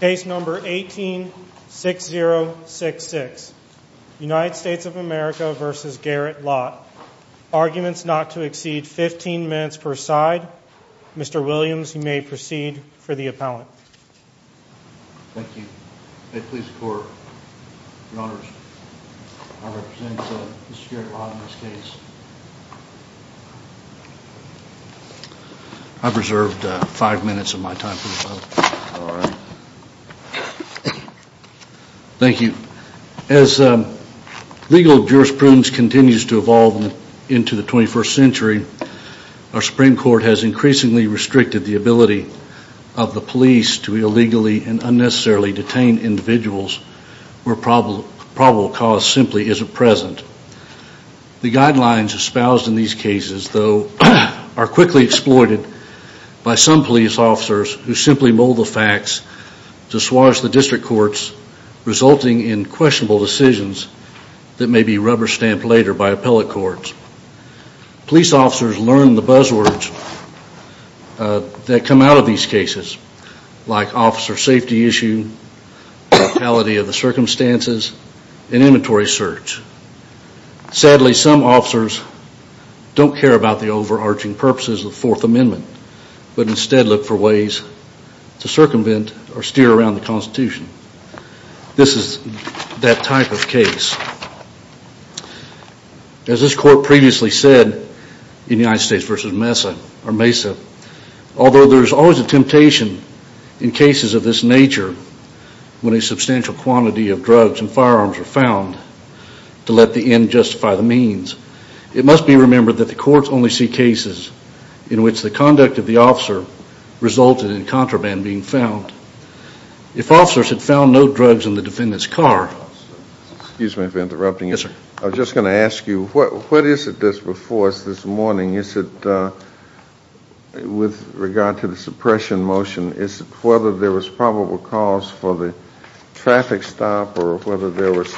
Case number 18-6066 United States of America v. Garrett Lott Arguments not to exceed 15 minutes per side Mr. Williams, you may proceed for the appellant Thank you. Please record, your honors I've reserved five minutes of my time for the appellant Thank you. As legal jurisprudence continues to evolve into the 21st century, our Supreme Court has increasingly restricted the ability of the police to illegally and unnecessarily detain individuals where probable cause simply isn't present The guidelines espoused in these cases, though, are quickly exploited by some police officers who simply mold the facts to swash the district courts, resulting in questionable decisions that may be rubber-stamped later by appellate courts Police officers learn the buzzwords that come out of these cases, like officer safety issue, brutality of the circumstances, and inventory search Sadly, some officers don't care about the overarching purposes of the Fourth Amendment, but instead look for ways to circumvent or steer around the Constitution This is that type of case As this court previously said in United States v. Mesa, although there is always a temptation in cases of this nature when a substantial quantity of drugs and firearms are found to let the end justify the means, it must be remembered that the courts only see cases in which the conduct of the officer resulted in contraband being found If officers had found no drugs in the defendant's car Excuse me for interrupting you. I was just going to ask you, what is it that's before us this morning with regard to the suppression motion? Is it whether there was probable cause for the traffic stop or whether there was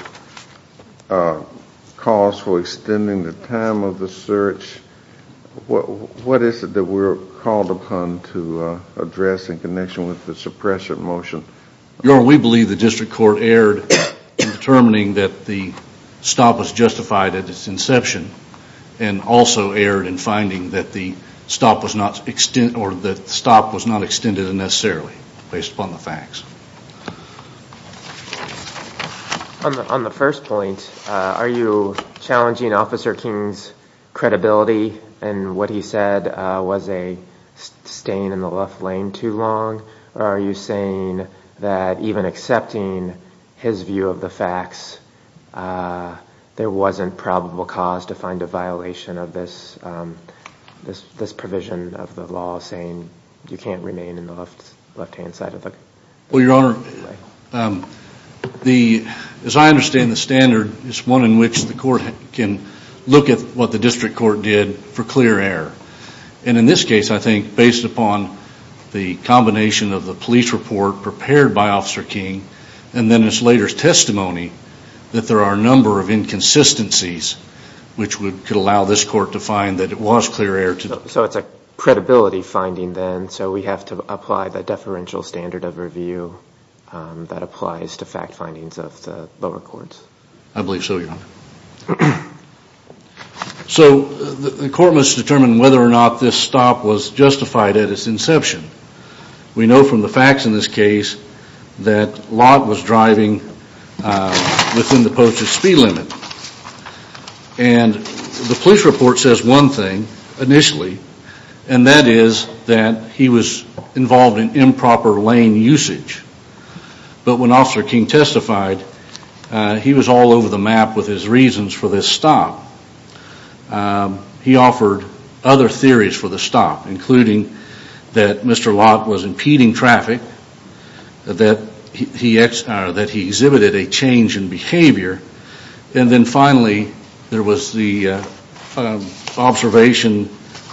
cause for extending the time of the search? What is it that we're called upon to address in connection with the suppression motion? Your Honor, we believe the district court erred in determining that the stop was justified at its inception and also erred in finding that the stop was not extended unnecessarily based upon the facts On the first point, are you challenging Officer King's credibility in what he said was a staying in the left lane too long? Or are you saying that even accepting his view of the facts, there wasn't probable cause to find a violation of this provision of the law saying you can't remain in the left-hand side of the law? Well, Your Honor, as I understand the standard, it's one in which the court can look at what the district court did for clear error. And in this case, I think based upon the combination of the police report prepared by Officer King and then this later testimony, that there are a number of inconsistencies which could allow this court to find that it was clear error So it's a credibility finding then, so we have to apply the deferential standard of review that applies to fact findings of the lower courts? I believe so, Your Honor. So the court must determine whether or not this stop was justified at its inception. We know from the facts in this case that Lott was driving within the posted speed limit. And the police report says one thing initially, and that is that he was involved in improper lane usage. But when Officer King testified, he was all over the map with his reasons for this stop. He offered other theories for the stop, including that Mr. Lott was impeding traffic, that he exhibited a change in behavior, and then finally there was the observation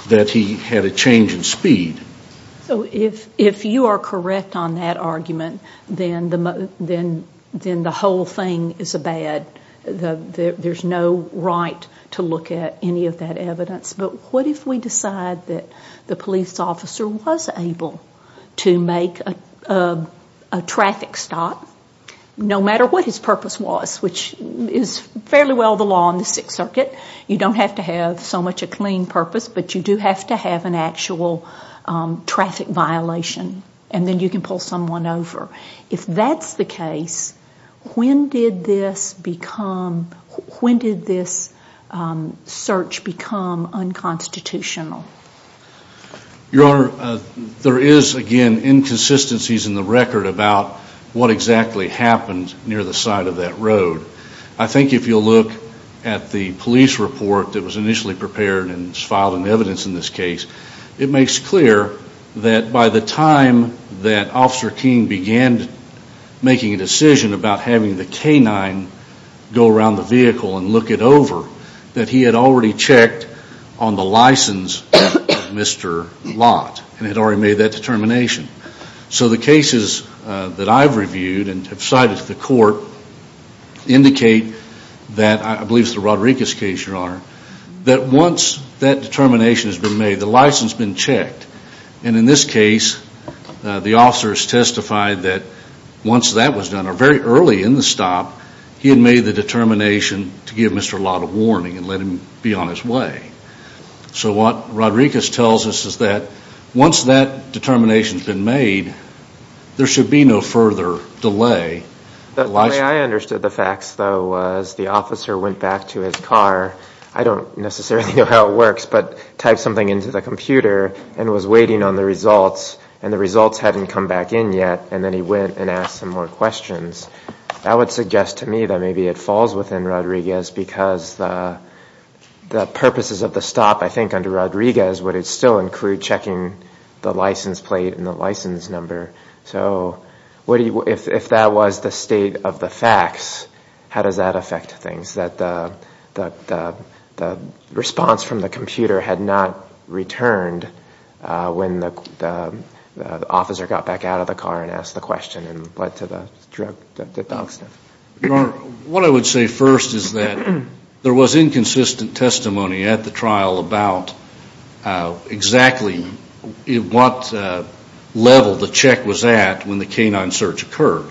that he had a change in speed. So if you are correct on that argument, then the whole thing is bad. There's no right to look at any of that evidence. But what if we decide that the police officer was able to make a traffic stop, no matter what his purpose was, which is fairly well the law in the Sixth Circuit. You don't have to have so much a clean purpose, but you do have to have an actual traffic violation, and then you can pull someone over. If that's the case, when did this search become unconstitutional? Your Honor, there is again inconsistencies in the record about what exactly happened near the side of that road. I think if you look at the police report that was initially prepared and is filed in evidence in this case, it makes clear that by the time that Officer King began making a decision about having the canine go around the vehicle and look it over, that he had already checked on the license of Mr. Lott and had already made that determination. So the cases that I've reviewed and have cited to the court indicate that, I believe it's the Rodriguez case, that once that determination has been made, the license has been checked. And in this case, the officers testified that once that was done, or very early in the stop, he had made the determination to give Mr. Lott a warning and let him be on his way. So what Rodriguez tells us is that once that determination has been made, there should be no further delay. The way I understood the facts, though, was the officer went back to his car. I don't necessarily know how it works, but typed something into the computer and was waiting on the results, and the results hadn't come back in yet, and then he went and asked some more questions. That would suggest to me that maybe it falls within Rodriguez because the purposes of the stop, I think, under Rodriguez would still include checking the license plate and the license number. So if that was the state of the facts, how does that affect things, that the response from the computer had not returned when the officer got back out of the car and asked the question and led to the dog sniff? Your Honor, what I would say first is that there was inconsistent testimony at the trial about exactly what level the check was at when the canine search occurred.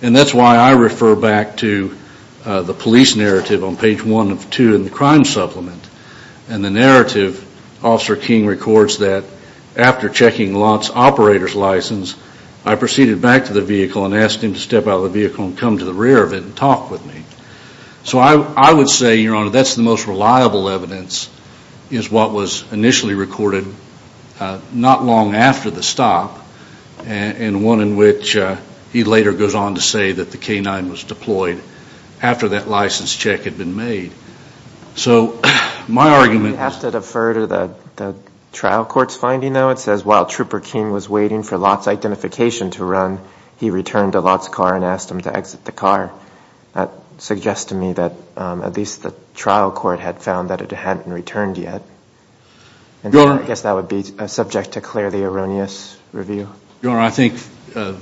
And that's why I refer back to the police narrative on page one of two in the crime supplement. And the narrative, Officer King records that after checking Lott's operator's license, I proceeded back to the vehicle and asked him to step out of the vehicle and come to the rear of it and talk with me. So I would say, Your Honor, that's the most reliable evidence is what was initially recorded not long after the stop, and one in which he later goes on to say that the canine was deployed after that license check had been made. So my argument is... You have to defer to the trial court's finding, though. It says while Trooper King was waiting for Lott's identification to run, he returned to Lott's car and asked him to exit the car. That suggests to me that at least the trial court had found that it hadn't returned yet. Your Honor... I guess that would be subject to clearly erroneous review. Your Honor, I think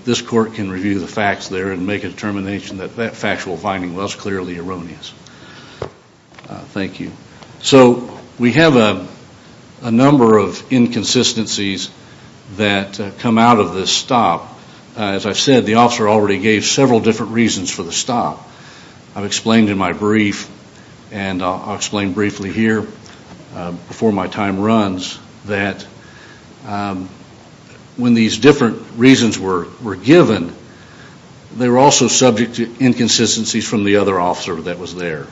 this court can review the facts there and make a determination that that factual finding was clearly erroneous. Thank you. So we have a number of inconsistencies that come out of this stop. As I've said, the officer already gave several different reasons for the stop. I've explained in my brief, and I'll explain briefly here before my time runs, that when these different reasons were given, they were also subject to inconsistencies from the other officer that was there.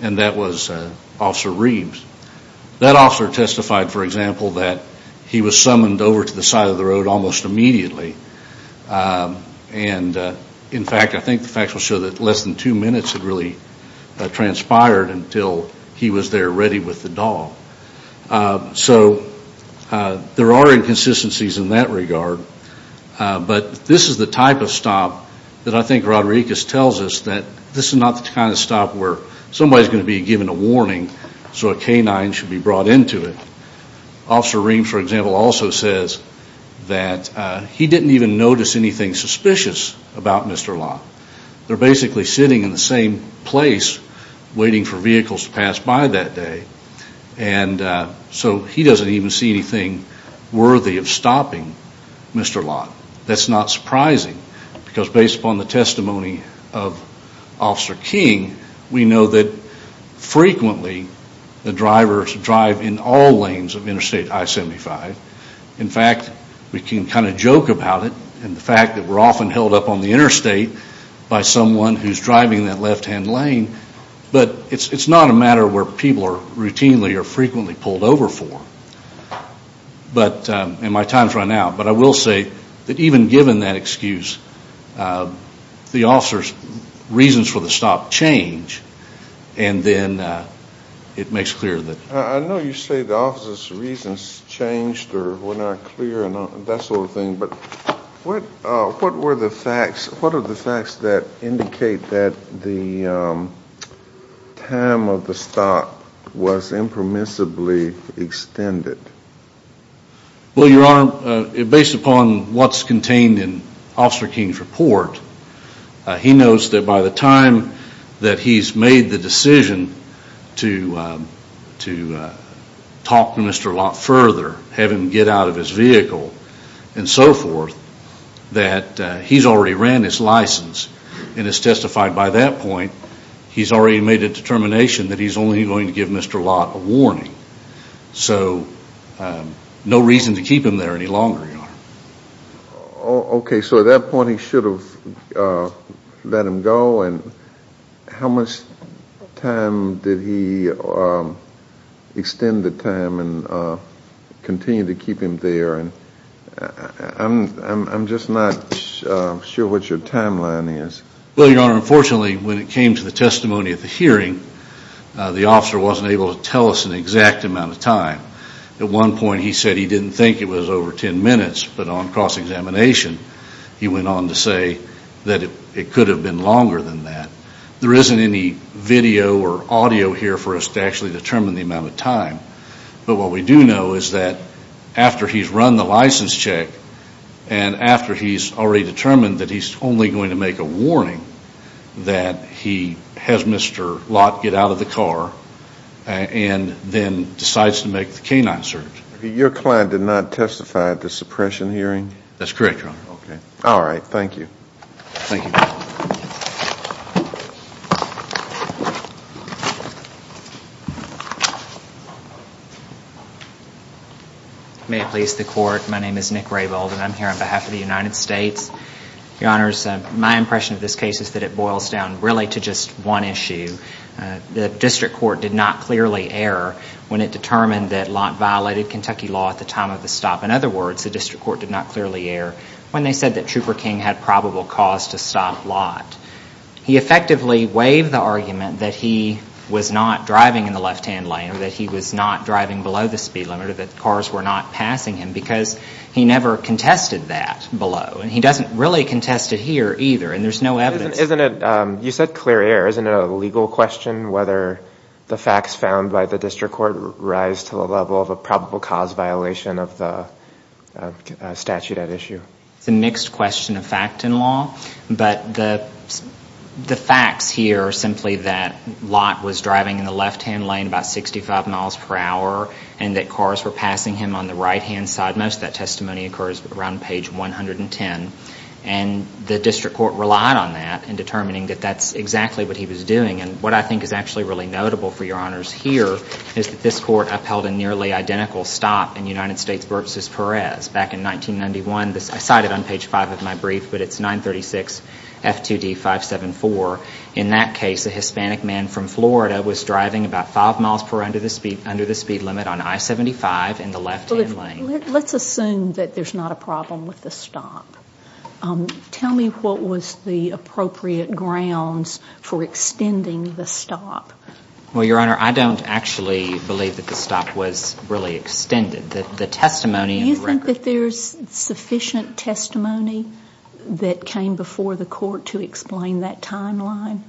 And that was Officer Reeves. That officer testified, for example, that he was summoned over to the side of the road almost immediately. And in fact, I think the facts will show that less than two minutes had really transpired until he was there ready with the dog. So there are inconsistencies in that regard. But this is the type of stop that I think Rodriguez tells us that this is not the kind of stop where somebody's going to be given a warning so a canine should be brought into it. Officer Reeves, for example, also says that he didn't even notice anything suspicious about Mr. Lott. They're basically sitting in the same place waiting for vehicles to pass by that day. And so he doesn't even see anything worthy of stopping Mr. Lott. That's not surprising because based upon the testimony of Officer King, we know that frequently the drivers drive in all lanes of Interstate I-75. In fact, we can kind of joke about it and the fact that we're often held up on the interstate by someone who's driving that left-hand lane. But it's not a matter where people are routinely or frequently pulled over for. And my time's run out, but I will say that even given that excuse, the officer's reasons for the stop change and then it makes clear that. I know you say the officer's reasons changed or were not clear and that sort of thing, but what are the facts that indicate that the time of the stop was impermissibly extended? Well, Your Honor, based upon what's contained in Officer King's report, he knows that by the time that he's made the decision to talk to Mr. Lott further, have him get out of his vehicle and so forth, that he's already ran his license. And it's testified by that point he's already made a determination that he's only going to give Mr. Lott a warning. So no reason to keep him there any longer, Your Honor. Okay, so at that point he should have let him go. And how much time did he extend the time and continue to keep him there? And I'm just not sure what your timeline is. Well, Your Honor, unfortunately when it came to the testimony at the hearing, the officer wasn't able to tell us an exact amount of time. At one point he said he didn't think it was over 10 minutes, but on cross-examination he went on to say that it could have been longer than that. There isn't any video or audio here for us to actually determine the amount of time. But what we do know is that after he's run the license check and after he's already determined that he's only going to make a warning, that he has Mr. Lott get out of the car and then decides to make the canine search. Your client did not testify at the suppression hearing? That's correct, Your Honor. Okay. All right. Thank you. Thank you. May it please the Court, my name is Nick Raybould and I'm here on behalf of the United States. Your Honors, my impression of this case is that it boils down really to just one issue. The district court did not clearly err when it determined that Lott violated Kentucky law at the time of the stop. In other words, the district court did not clearly err when they said that Trooper King had probable cause to stop Lott. He effectively waived the argument that he was not driving in the left-hand lane or that he was not driving below the speed limit or that cars were not passing him because he never contested that below. And he doesn't really contest it here either, and there's no evidence. You said clear error. Isn't it a legal question whether the facts found by the district court rise to the level of a probable cause violation of the statute at issue? It's a mixed question of fact and law. But the facts here are simply that Lott was driving in the left-hand lane about 65 miles per hour and that cars were passing him on the right-hand side. Most of that testimony occurs around page 110. And the district court relied on that in determining that that's exactly what he was doing. And what I think is actually really notable for Your Honors here is that this court upheld a nearly identical stop in United States versus Perez. Back in 1991, I cite it on page 5 of my brief, but it's 936 F2D 574. In that case, a Hispanic man from Florida was driving about 5 miles per hour under the speed limit on I-75 in the left-hand lane. Let's assume that there's not a problem with the stop. Tell me what was the appropriate grounds for extending the stop. Well, Your Honor, I don't actually believe that the stop was really extended. Do you think that there's sufficient testimony that came before the court to explain that timeline?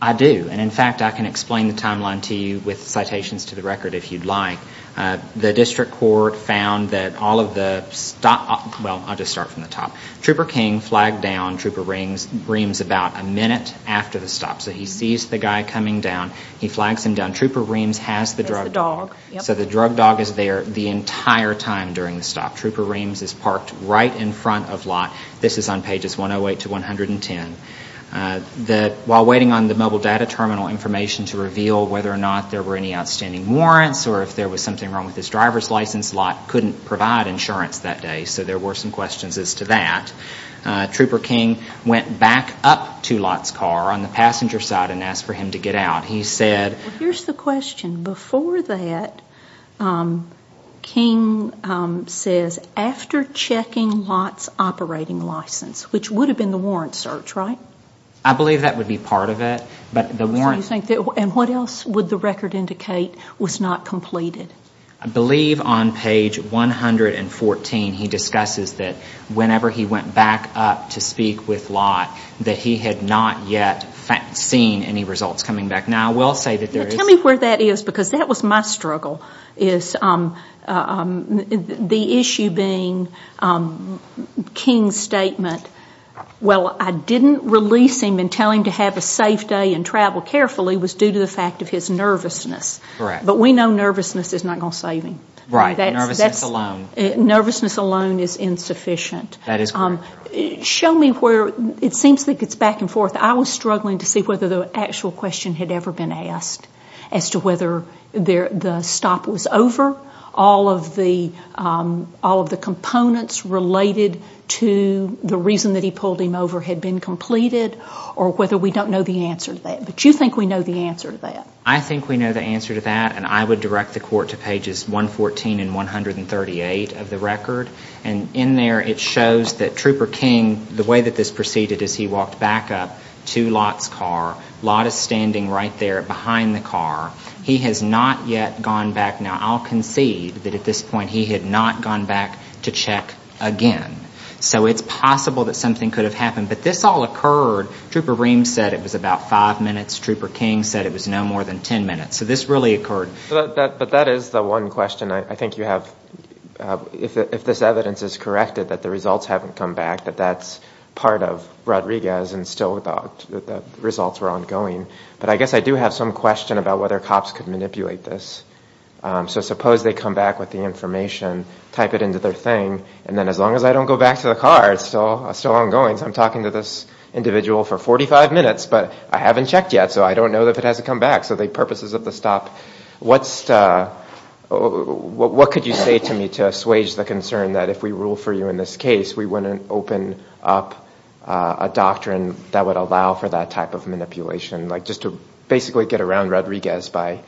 I do. And, in fact, I can explain the timeline to you with citations to the record if you'd like. The district court found that all of the stop—well, I'll just start from the top. Trooper King flagged down Trooper Reams about a minute after the stop. So he sees the guy coming down. He flags him down. Trooper Reams has the drug dog. So the drug dog is there the entire time during the stop. Trooper Reams is parked right in front of Lott. This is on pages 108 to 110. While waiting on the mobile data terminal information to reveal whether or not there were any outstanding warrants or if there was something wrong with his driver's license, Lott couldn't provide insurance that day, so there were some questions as to that. Trooper King went back up to Lott's car on the passenger side and asked for him to get out. Here's the question. Before that, King says after checking Lott's operating license, which would have been the warrant search, right? I believe that would be part of it. And what else would the record indicate was not completed? I believe on page 114 he discusses that whenever he went back up to speak with Lott, that he had not yet seen any results coming back. Now, I will say that there is. Tell me where that is, because that was my struggle, is the issue being King's statement, well, I didn't release him and tell him to have a safe day and travel carefully was due to the fact of his nervousness. Correct. But we know nervousness is not going to save him. Right. Nervousness alone. Nervousness alone is insufficient. That is correct. Show me where it seems like it's back and forth. I was struggling to see whether the actual question had ever been asked as to whether the stop was over, all of the components related to the reason that he pulled him over had been completed, or whether we don't know the answer to that. But you think we know the answer to that. I think we know the answer to that, and I would direct the court to pages 114 and 138 of the record. And in there it shows that Trooper King, the way that this proceeded is he walked back up to Lott's car. Lott is standing right there behind the car. He has not yet gone back. Now, I'll concede that at this point he had not gone back to check again. So it's possible that something could have happened. But this all occurred. Trooper Reams said it was about five minutes. Trooper King said it was no more than ten minutes. So this really occurred. But that is the one question I think you have. If this evidence is corrected that the results haven't come back, that that's part of Rodriguez and still the results were ongoing. But I guess I do have some question about whether cops could manipulate this. So suppose they come back with the information, type it into their thing, and then as long as I don't go back to the car, it's still ongoing. So I'm talking to this individual for 45 minutes, but I haven't checked yet, so I don't know if it hasn't come back. So the purposes of the stop, what could you say to me to assuage the concern that if we rule for you in this case, we wouldn't open up a doctrine that would allow for that type of manipulation, like just to basically get around Rodriguez by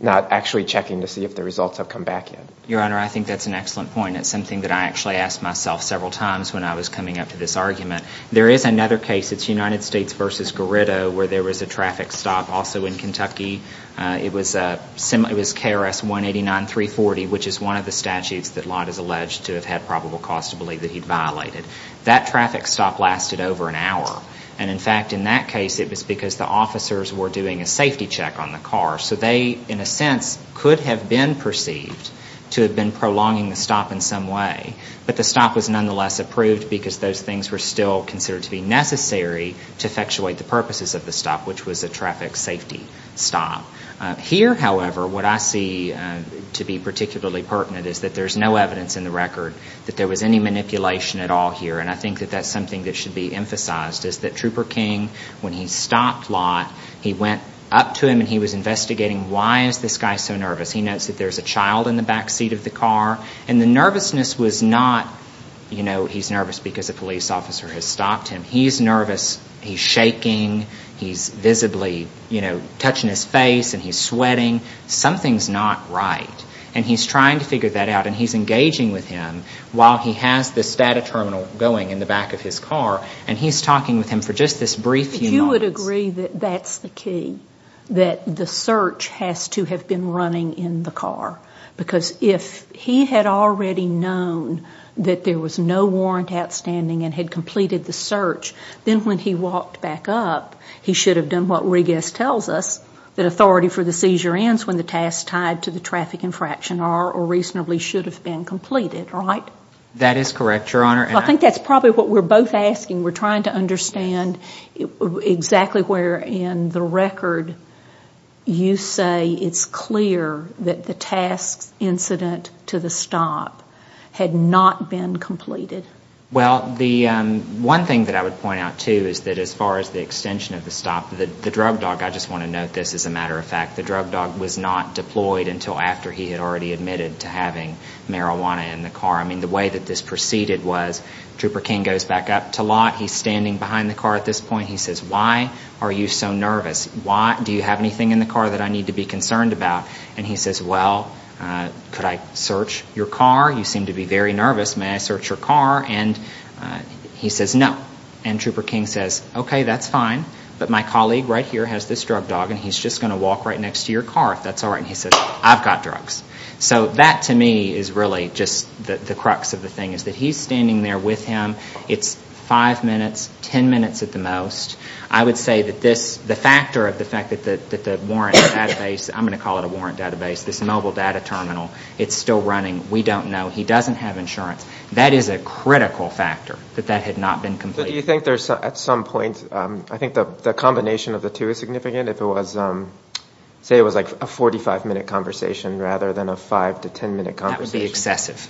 not actually checking to see if the results have come back yet? Your Honor, I think that's an excellent point. It's something that I actually asked myself several times when I was coming up to this argument. There is another case. It's United States v. Gerrido where there was a traffic stop also in Kentucky. It was KRS-189-340, which is one of the statutes that Lott has alleged to have had probable cause to believe that he'd violated. That traffic stop lasted over an hour, and in fact in that case it was because the officers were doing a safety check on the car. So they, in a sense, could have been perceived to have been prolonging the stop in some way, but the stop was nonetheless approved because those things were still considered to be necessary to effectuate the purposes of the stop, which was a traffic safety stop. Here, however, what I see to be particularly pertinent is that there's no evidence in the record that there was any manipulation at all here, and I think that that's something that should be emphasized, is that Trooper King, when he stopped Lott, he went up to him and he was investigating why is this guy so nervous. He notes that there's a child in the back seat of the car, and the nervousness was not, you know, he's nervous because a police officer has stopped him. He's nervous. He's shaking. He's visibly, you know, touching his face, and he's sweating. Something's not right, and he's trying to figure that out, and he's engaging with him while he has this data terminal going in the back of his car, and he's talking with him for just this brief few moments. Do you agree that that's the key, that the search has to have been running in the car? Because if he had already known that there was no warrant outstanding and had completed the search, then when he walked back up, he should have done what Regas tells us, that authority for the seizure ends when the task tied to the traffic infraction are or reasonably should have been completed, right? That is correct, Your Honor. I think that's probably what we're both asking. We're trying to understand exactly where in the record you say it's clear that the task incident to the stop had not been completed. Well, the one thing that I would point out, too, is that as far as the extension of the stop, the drug dog, I just want to note this as a matter of fact, the drug dog was not deployed until after he had already admitted to having marijuana in the car. I mean, the way that this proceeded was Trooper King goes back up to Lott. He's standing behind the car at this point. He says, why are you so nervous? Do you have anything in the car that I need to be concerned about? And he says, well, could I search your car? You seem to be very nervous. May I search your car? And he says, no. And Trooper King says, okay, that's fine. But my colleague right here has this drug dog, and he's just going to walk right next to your car if that's all right. And he says, I've got drugs. So that, to me, is really just the crux of the thing is that he's standing there with him. It's five minutes, ten minutes at the most. I would say that this, the factor of the fact that the warrant database, I'm going to call it a warrant database, this mobile data terminal, it's still running. We don't know. He doesn't have insurance. That is a critical factor, that that had not been completed. But do you think there's, at some point, I think the combination of the two is significant? If it was, say it was like a 45-minute conversation rather than a 5- to 10-minute conversation. That would be excessive,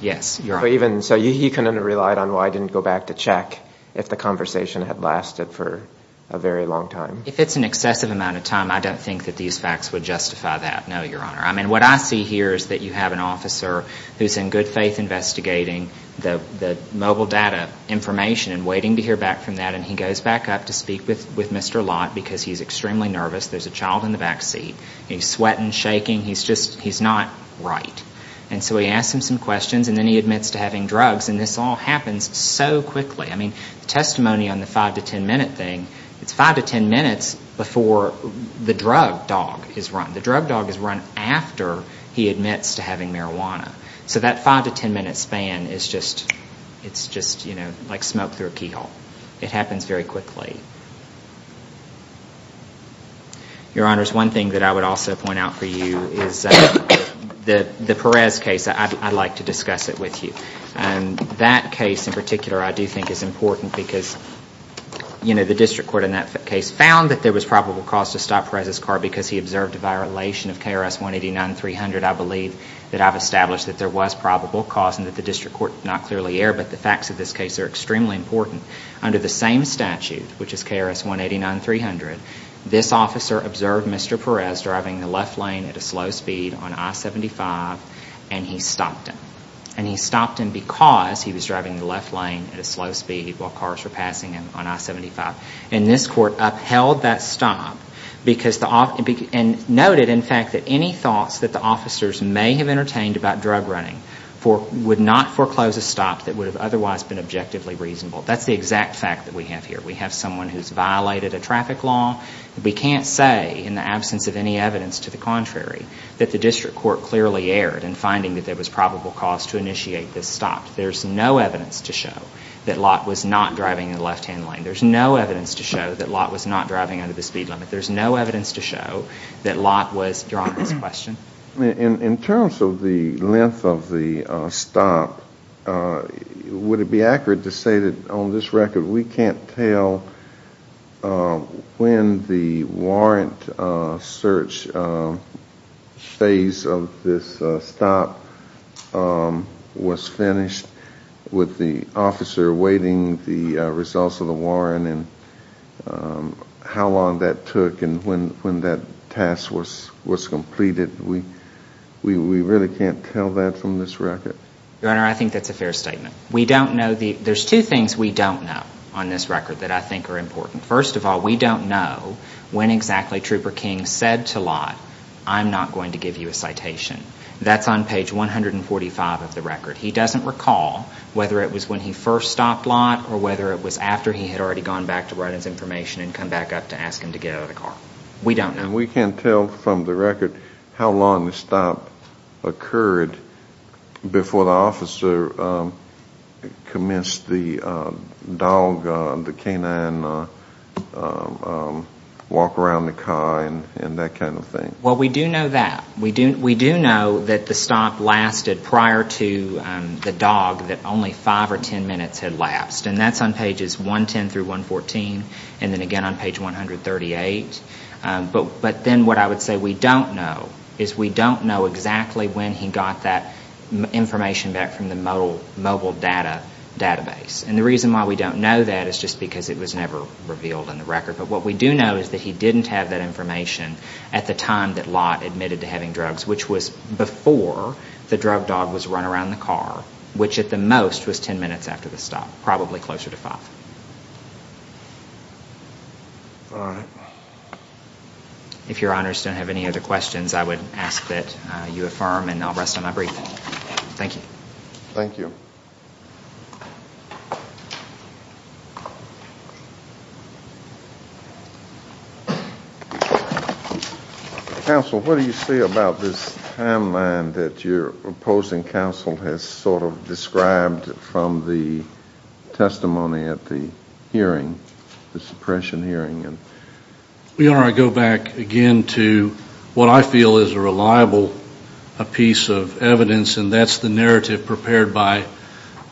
yes, Your Honor. So he kind of relied on why I didn't go back to check if the conversation had lasted for a very long time. If it's an excessive amount of time, I don't think that these facts would justify that, no, Your Honor. I mean, what I see here is that you have an officer who's in good faith investigating the mobile data information and waiting to hear back from that, and he goes back up to speak with Mr. Lott because he's extremely nervous. There's a child in the back seat. He's sweating, shaking. He's just, he's not right. And so he asks him some questions, and then he admits to having drugs. And this all happens so quickly. I mean, the testimony on the 5- to 10-minute thing, it's 5- to 10-minutes before the drug dog is run. The drug dog is run after he admits to having marijuana. So that 5- to 10-minute span is just, it's just, you know, like smoke through a keyhole. It happens very quickly. Your Honors, one thing that I would also point out for you is the Perez case. I'd like to discuss it with you. That case in particular I do think is important because, you know, the district court in that case found that there was probable cause to stop Perez's car because he observed a violation of KRS 189-300. I believe that I've established that there was probable cause and that the district court did not clearly err, but the facts of this case are extremely important. Under the same statute, which is KRS 189-300, this officer observed Mr. Perez driving the left lane at a slow speed on I-75, and he stopped him. And he stopped him because he was driving the left lane at a slow speed while cars were passing him on I-75. And this court upheld that stop and noted, in fact, that any thoughts that the officers may have entertained about drug running would not foreclose a stop that would have otherwise been objectively reasonable. That's the exact fact that we have here. We have someone who's violated a traffic law. We can't say, in the absence of any evidence to the contrary, that the district court clearly erred in finding that there was probable cause to initiate this stop. There's no evidence to show that Lott was not driving in the left-hand lane. There's no evidence to show that Lott was not driving under the speed limit. There's no evidence to show that Lott was driving, is the question. In terms of the length of the stop, would it be accurate to say that, on this record, we can't tell when the warrant search phase of this stop was finished, with the officer awaiting the results of the warrant, and how long that took and when that task was completed? We really can't tell that from this record? Your Honor, I think that's a fair statement. There's two things we don't know on this record that I think are important. First of all, we don't know when exactly Trooper King said to Lott, I'm not going to give you a citation. That's on page 145 of the record. He doesn't recall whether it was when he first stopped Lott or whether it was after he had already gone back to write his information and come back up to ask him to get out of the car. We don't know. And we can't tell from the record how long the stop occurred before the officer commenced the dog, the canine walk around the car and that kind of thing? Well, we do know that. We do know that the stop lasted prior to the dog, that only five or ten minutes had lapsed. And that's on pages 110 through 114, and then again on page 138. But then what I would say we don't know is we don't know exactly when he got that information back from the mobile database. And the reason why we don't know that is just because it was never revealed in the record. But what we do know is that he didn't have that information at the time that Lott admitted to having drugs, which was before the drug dog was run around the car, which at the most was ten minutes after the stop, probably closer to five. All right. If Your Honors don't have any other questions, I would ask that you affirm, and I'll rest on my brief. Thank you. Thank you. Counsel, what do you say about this timeline that your opposing counsel has sort of described from the testimony at the hearing, the suppression hearing? Your Honor, I go back again to what I feel is a reliable piece of evidence, and that's the narrative prepared by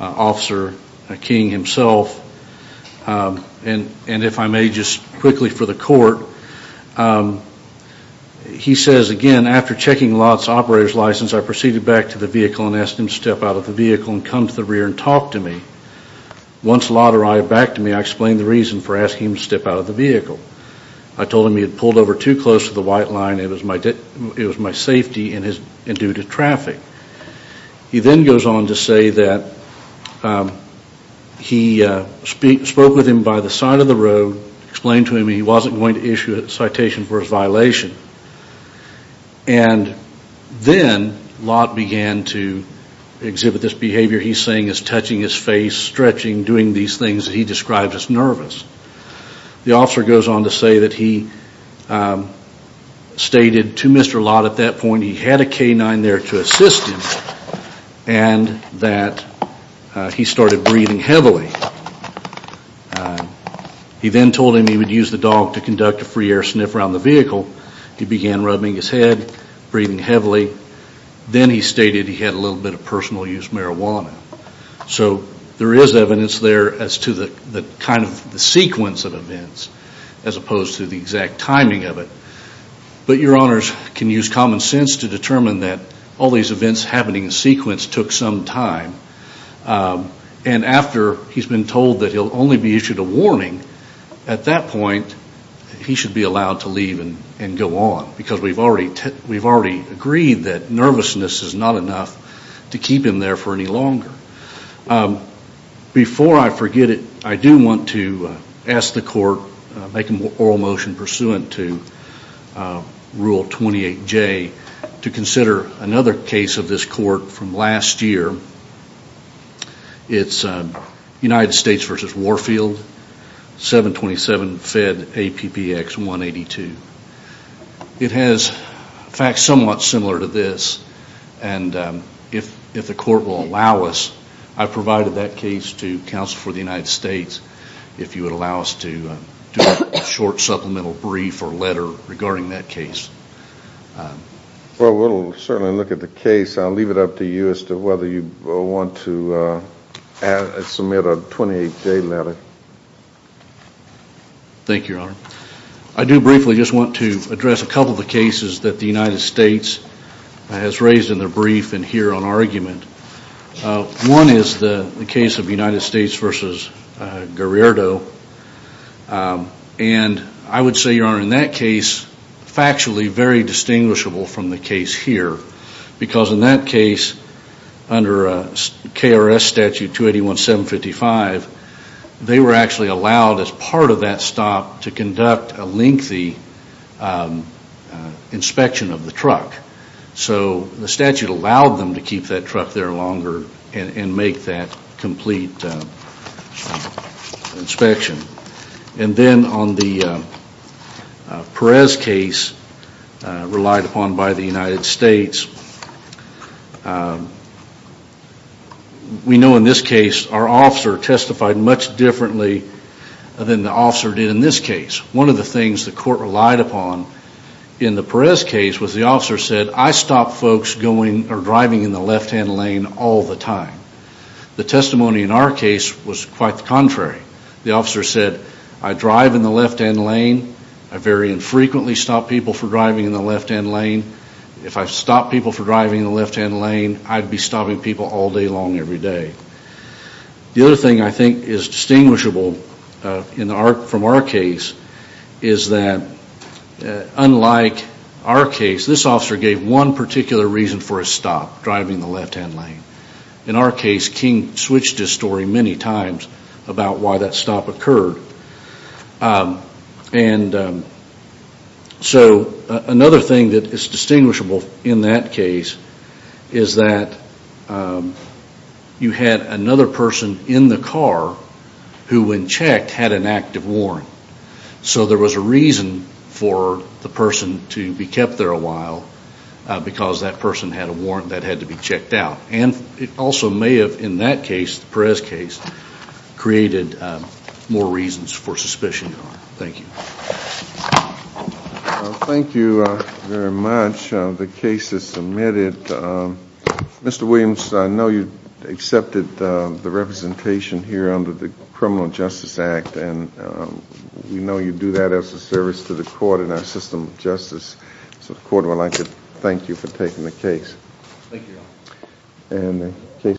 Officer King himself. And if I may just quickly for the court, he says, again, After checking Lott's operator's license, I proceeded back to the vehicle and asked him to step out of the vehicle and come to the rear and talk to me. Once Lott arrived back to me, I explained the reason for asking him to step out of the vehicle. I told him he had pulled over too close to the white line. It was my safety and due to traffic. He then goes on to say that he spoke with him by the side of the road, explained to him he wasn't going to issue a citation for his violation. And then Lott began to exhibit this behavior he's saying is touching his face, stretching, doing these things that he describes as nervous. The officer goes on to say that he stated to Mr. Lott at that point he had a canine there to assist him and that he started breathing heavily. He then told him he would use the dog to conduct a free air sniff around the vehicle. He began rubbing his head, breathing heavily. Then he stated he had a little bit of personal use marijuana. So there is evidence there as to the kind of sequence of events as opposed to the exact timing of it. But your honors can use common sense to determine that all these events happening in sequence took some time. And after he's been told that he'll only be issued a warning, at that point he should be allowed to leave and go on. Because we've already agreed that nervousness is not enough to keep him there for any longer. Before I forget it, I do want to ask the court, make an oral motion pursuant to Rule 28J, to consider another case of this court from last year. It's United States v. Warfield, 727 Fed APPX 182. It has facts somewhat similar to this. And if the court will allow us, I provided that case to counsel for the United States, if you would allow us to do a short supplemental brief or letter regarding that case. Well, we'll certainly look at the case. I'll leave it up to you as to whether you want to submit a 28-day letter. Thank you, your honor. I do briefly just want to address a couple of the cases that the United States has raised in their brief and here on argument. One is the case of United States v. Guerriero. And I would say, your honor, in that case, factually very distinguishable from the case here. Because in that case, under KRS statute 281755, they were actually allowed as part of that stop to conduct a lengthy inspection of the truck. So the statute allowed them to keep that truck there longer and make that complete inspection. And then on the Perez case relied upon by the United States, we know in this case our officer testified much differently than the officer did in this case. One of the things the court relied upon in the Perez case was the officer said, I stop folks going or driving in the left-hand lane all the time. The testimony in our case was quite the contrary. The officer said, I drive in the left-hand lane. I very infrequently stop people for driving in the left-hand lane. If I stopped people for driving in the left-hand lane, I'd be stopping people all day long every day. The other thing I think is distinguishable from our case is that unlike our case, this officer gave one particular reason for a stop, driving in the left-hand lane. In our case, King switched his story many times about why that stop occurred. And so another thing that is distinguishable in that case is that you had another person in the car who when checked had an active warrant. So there was a reason for the person to be kept there a while because that person had a warrant that had to be checked out. And it also may have, in that case, the Perez case, created more reasons for suspicion. Thank you. Thank you very much. The case is submitted. Mr. Williams, I know you accepted the representation here under the Criminal Justice Act, and we know you do that as a service to the court and our system of justice. So the court would like to thank you for taking the case. Thank you.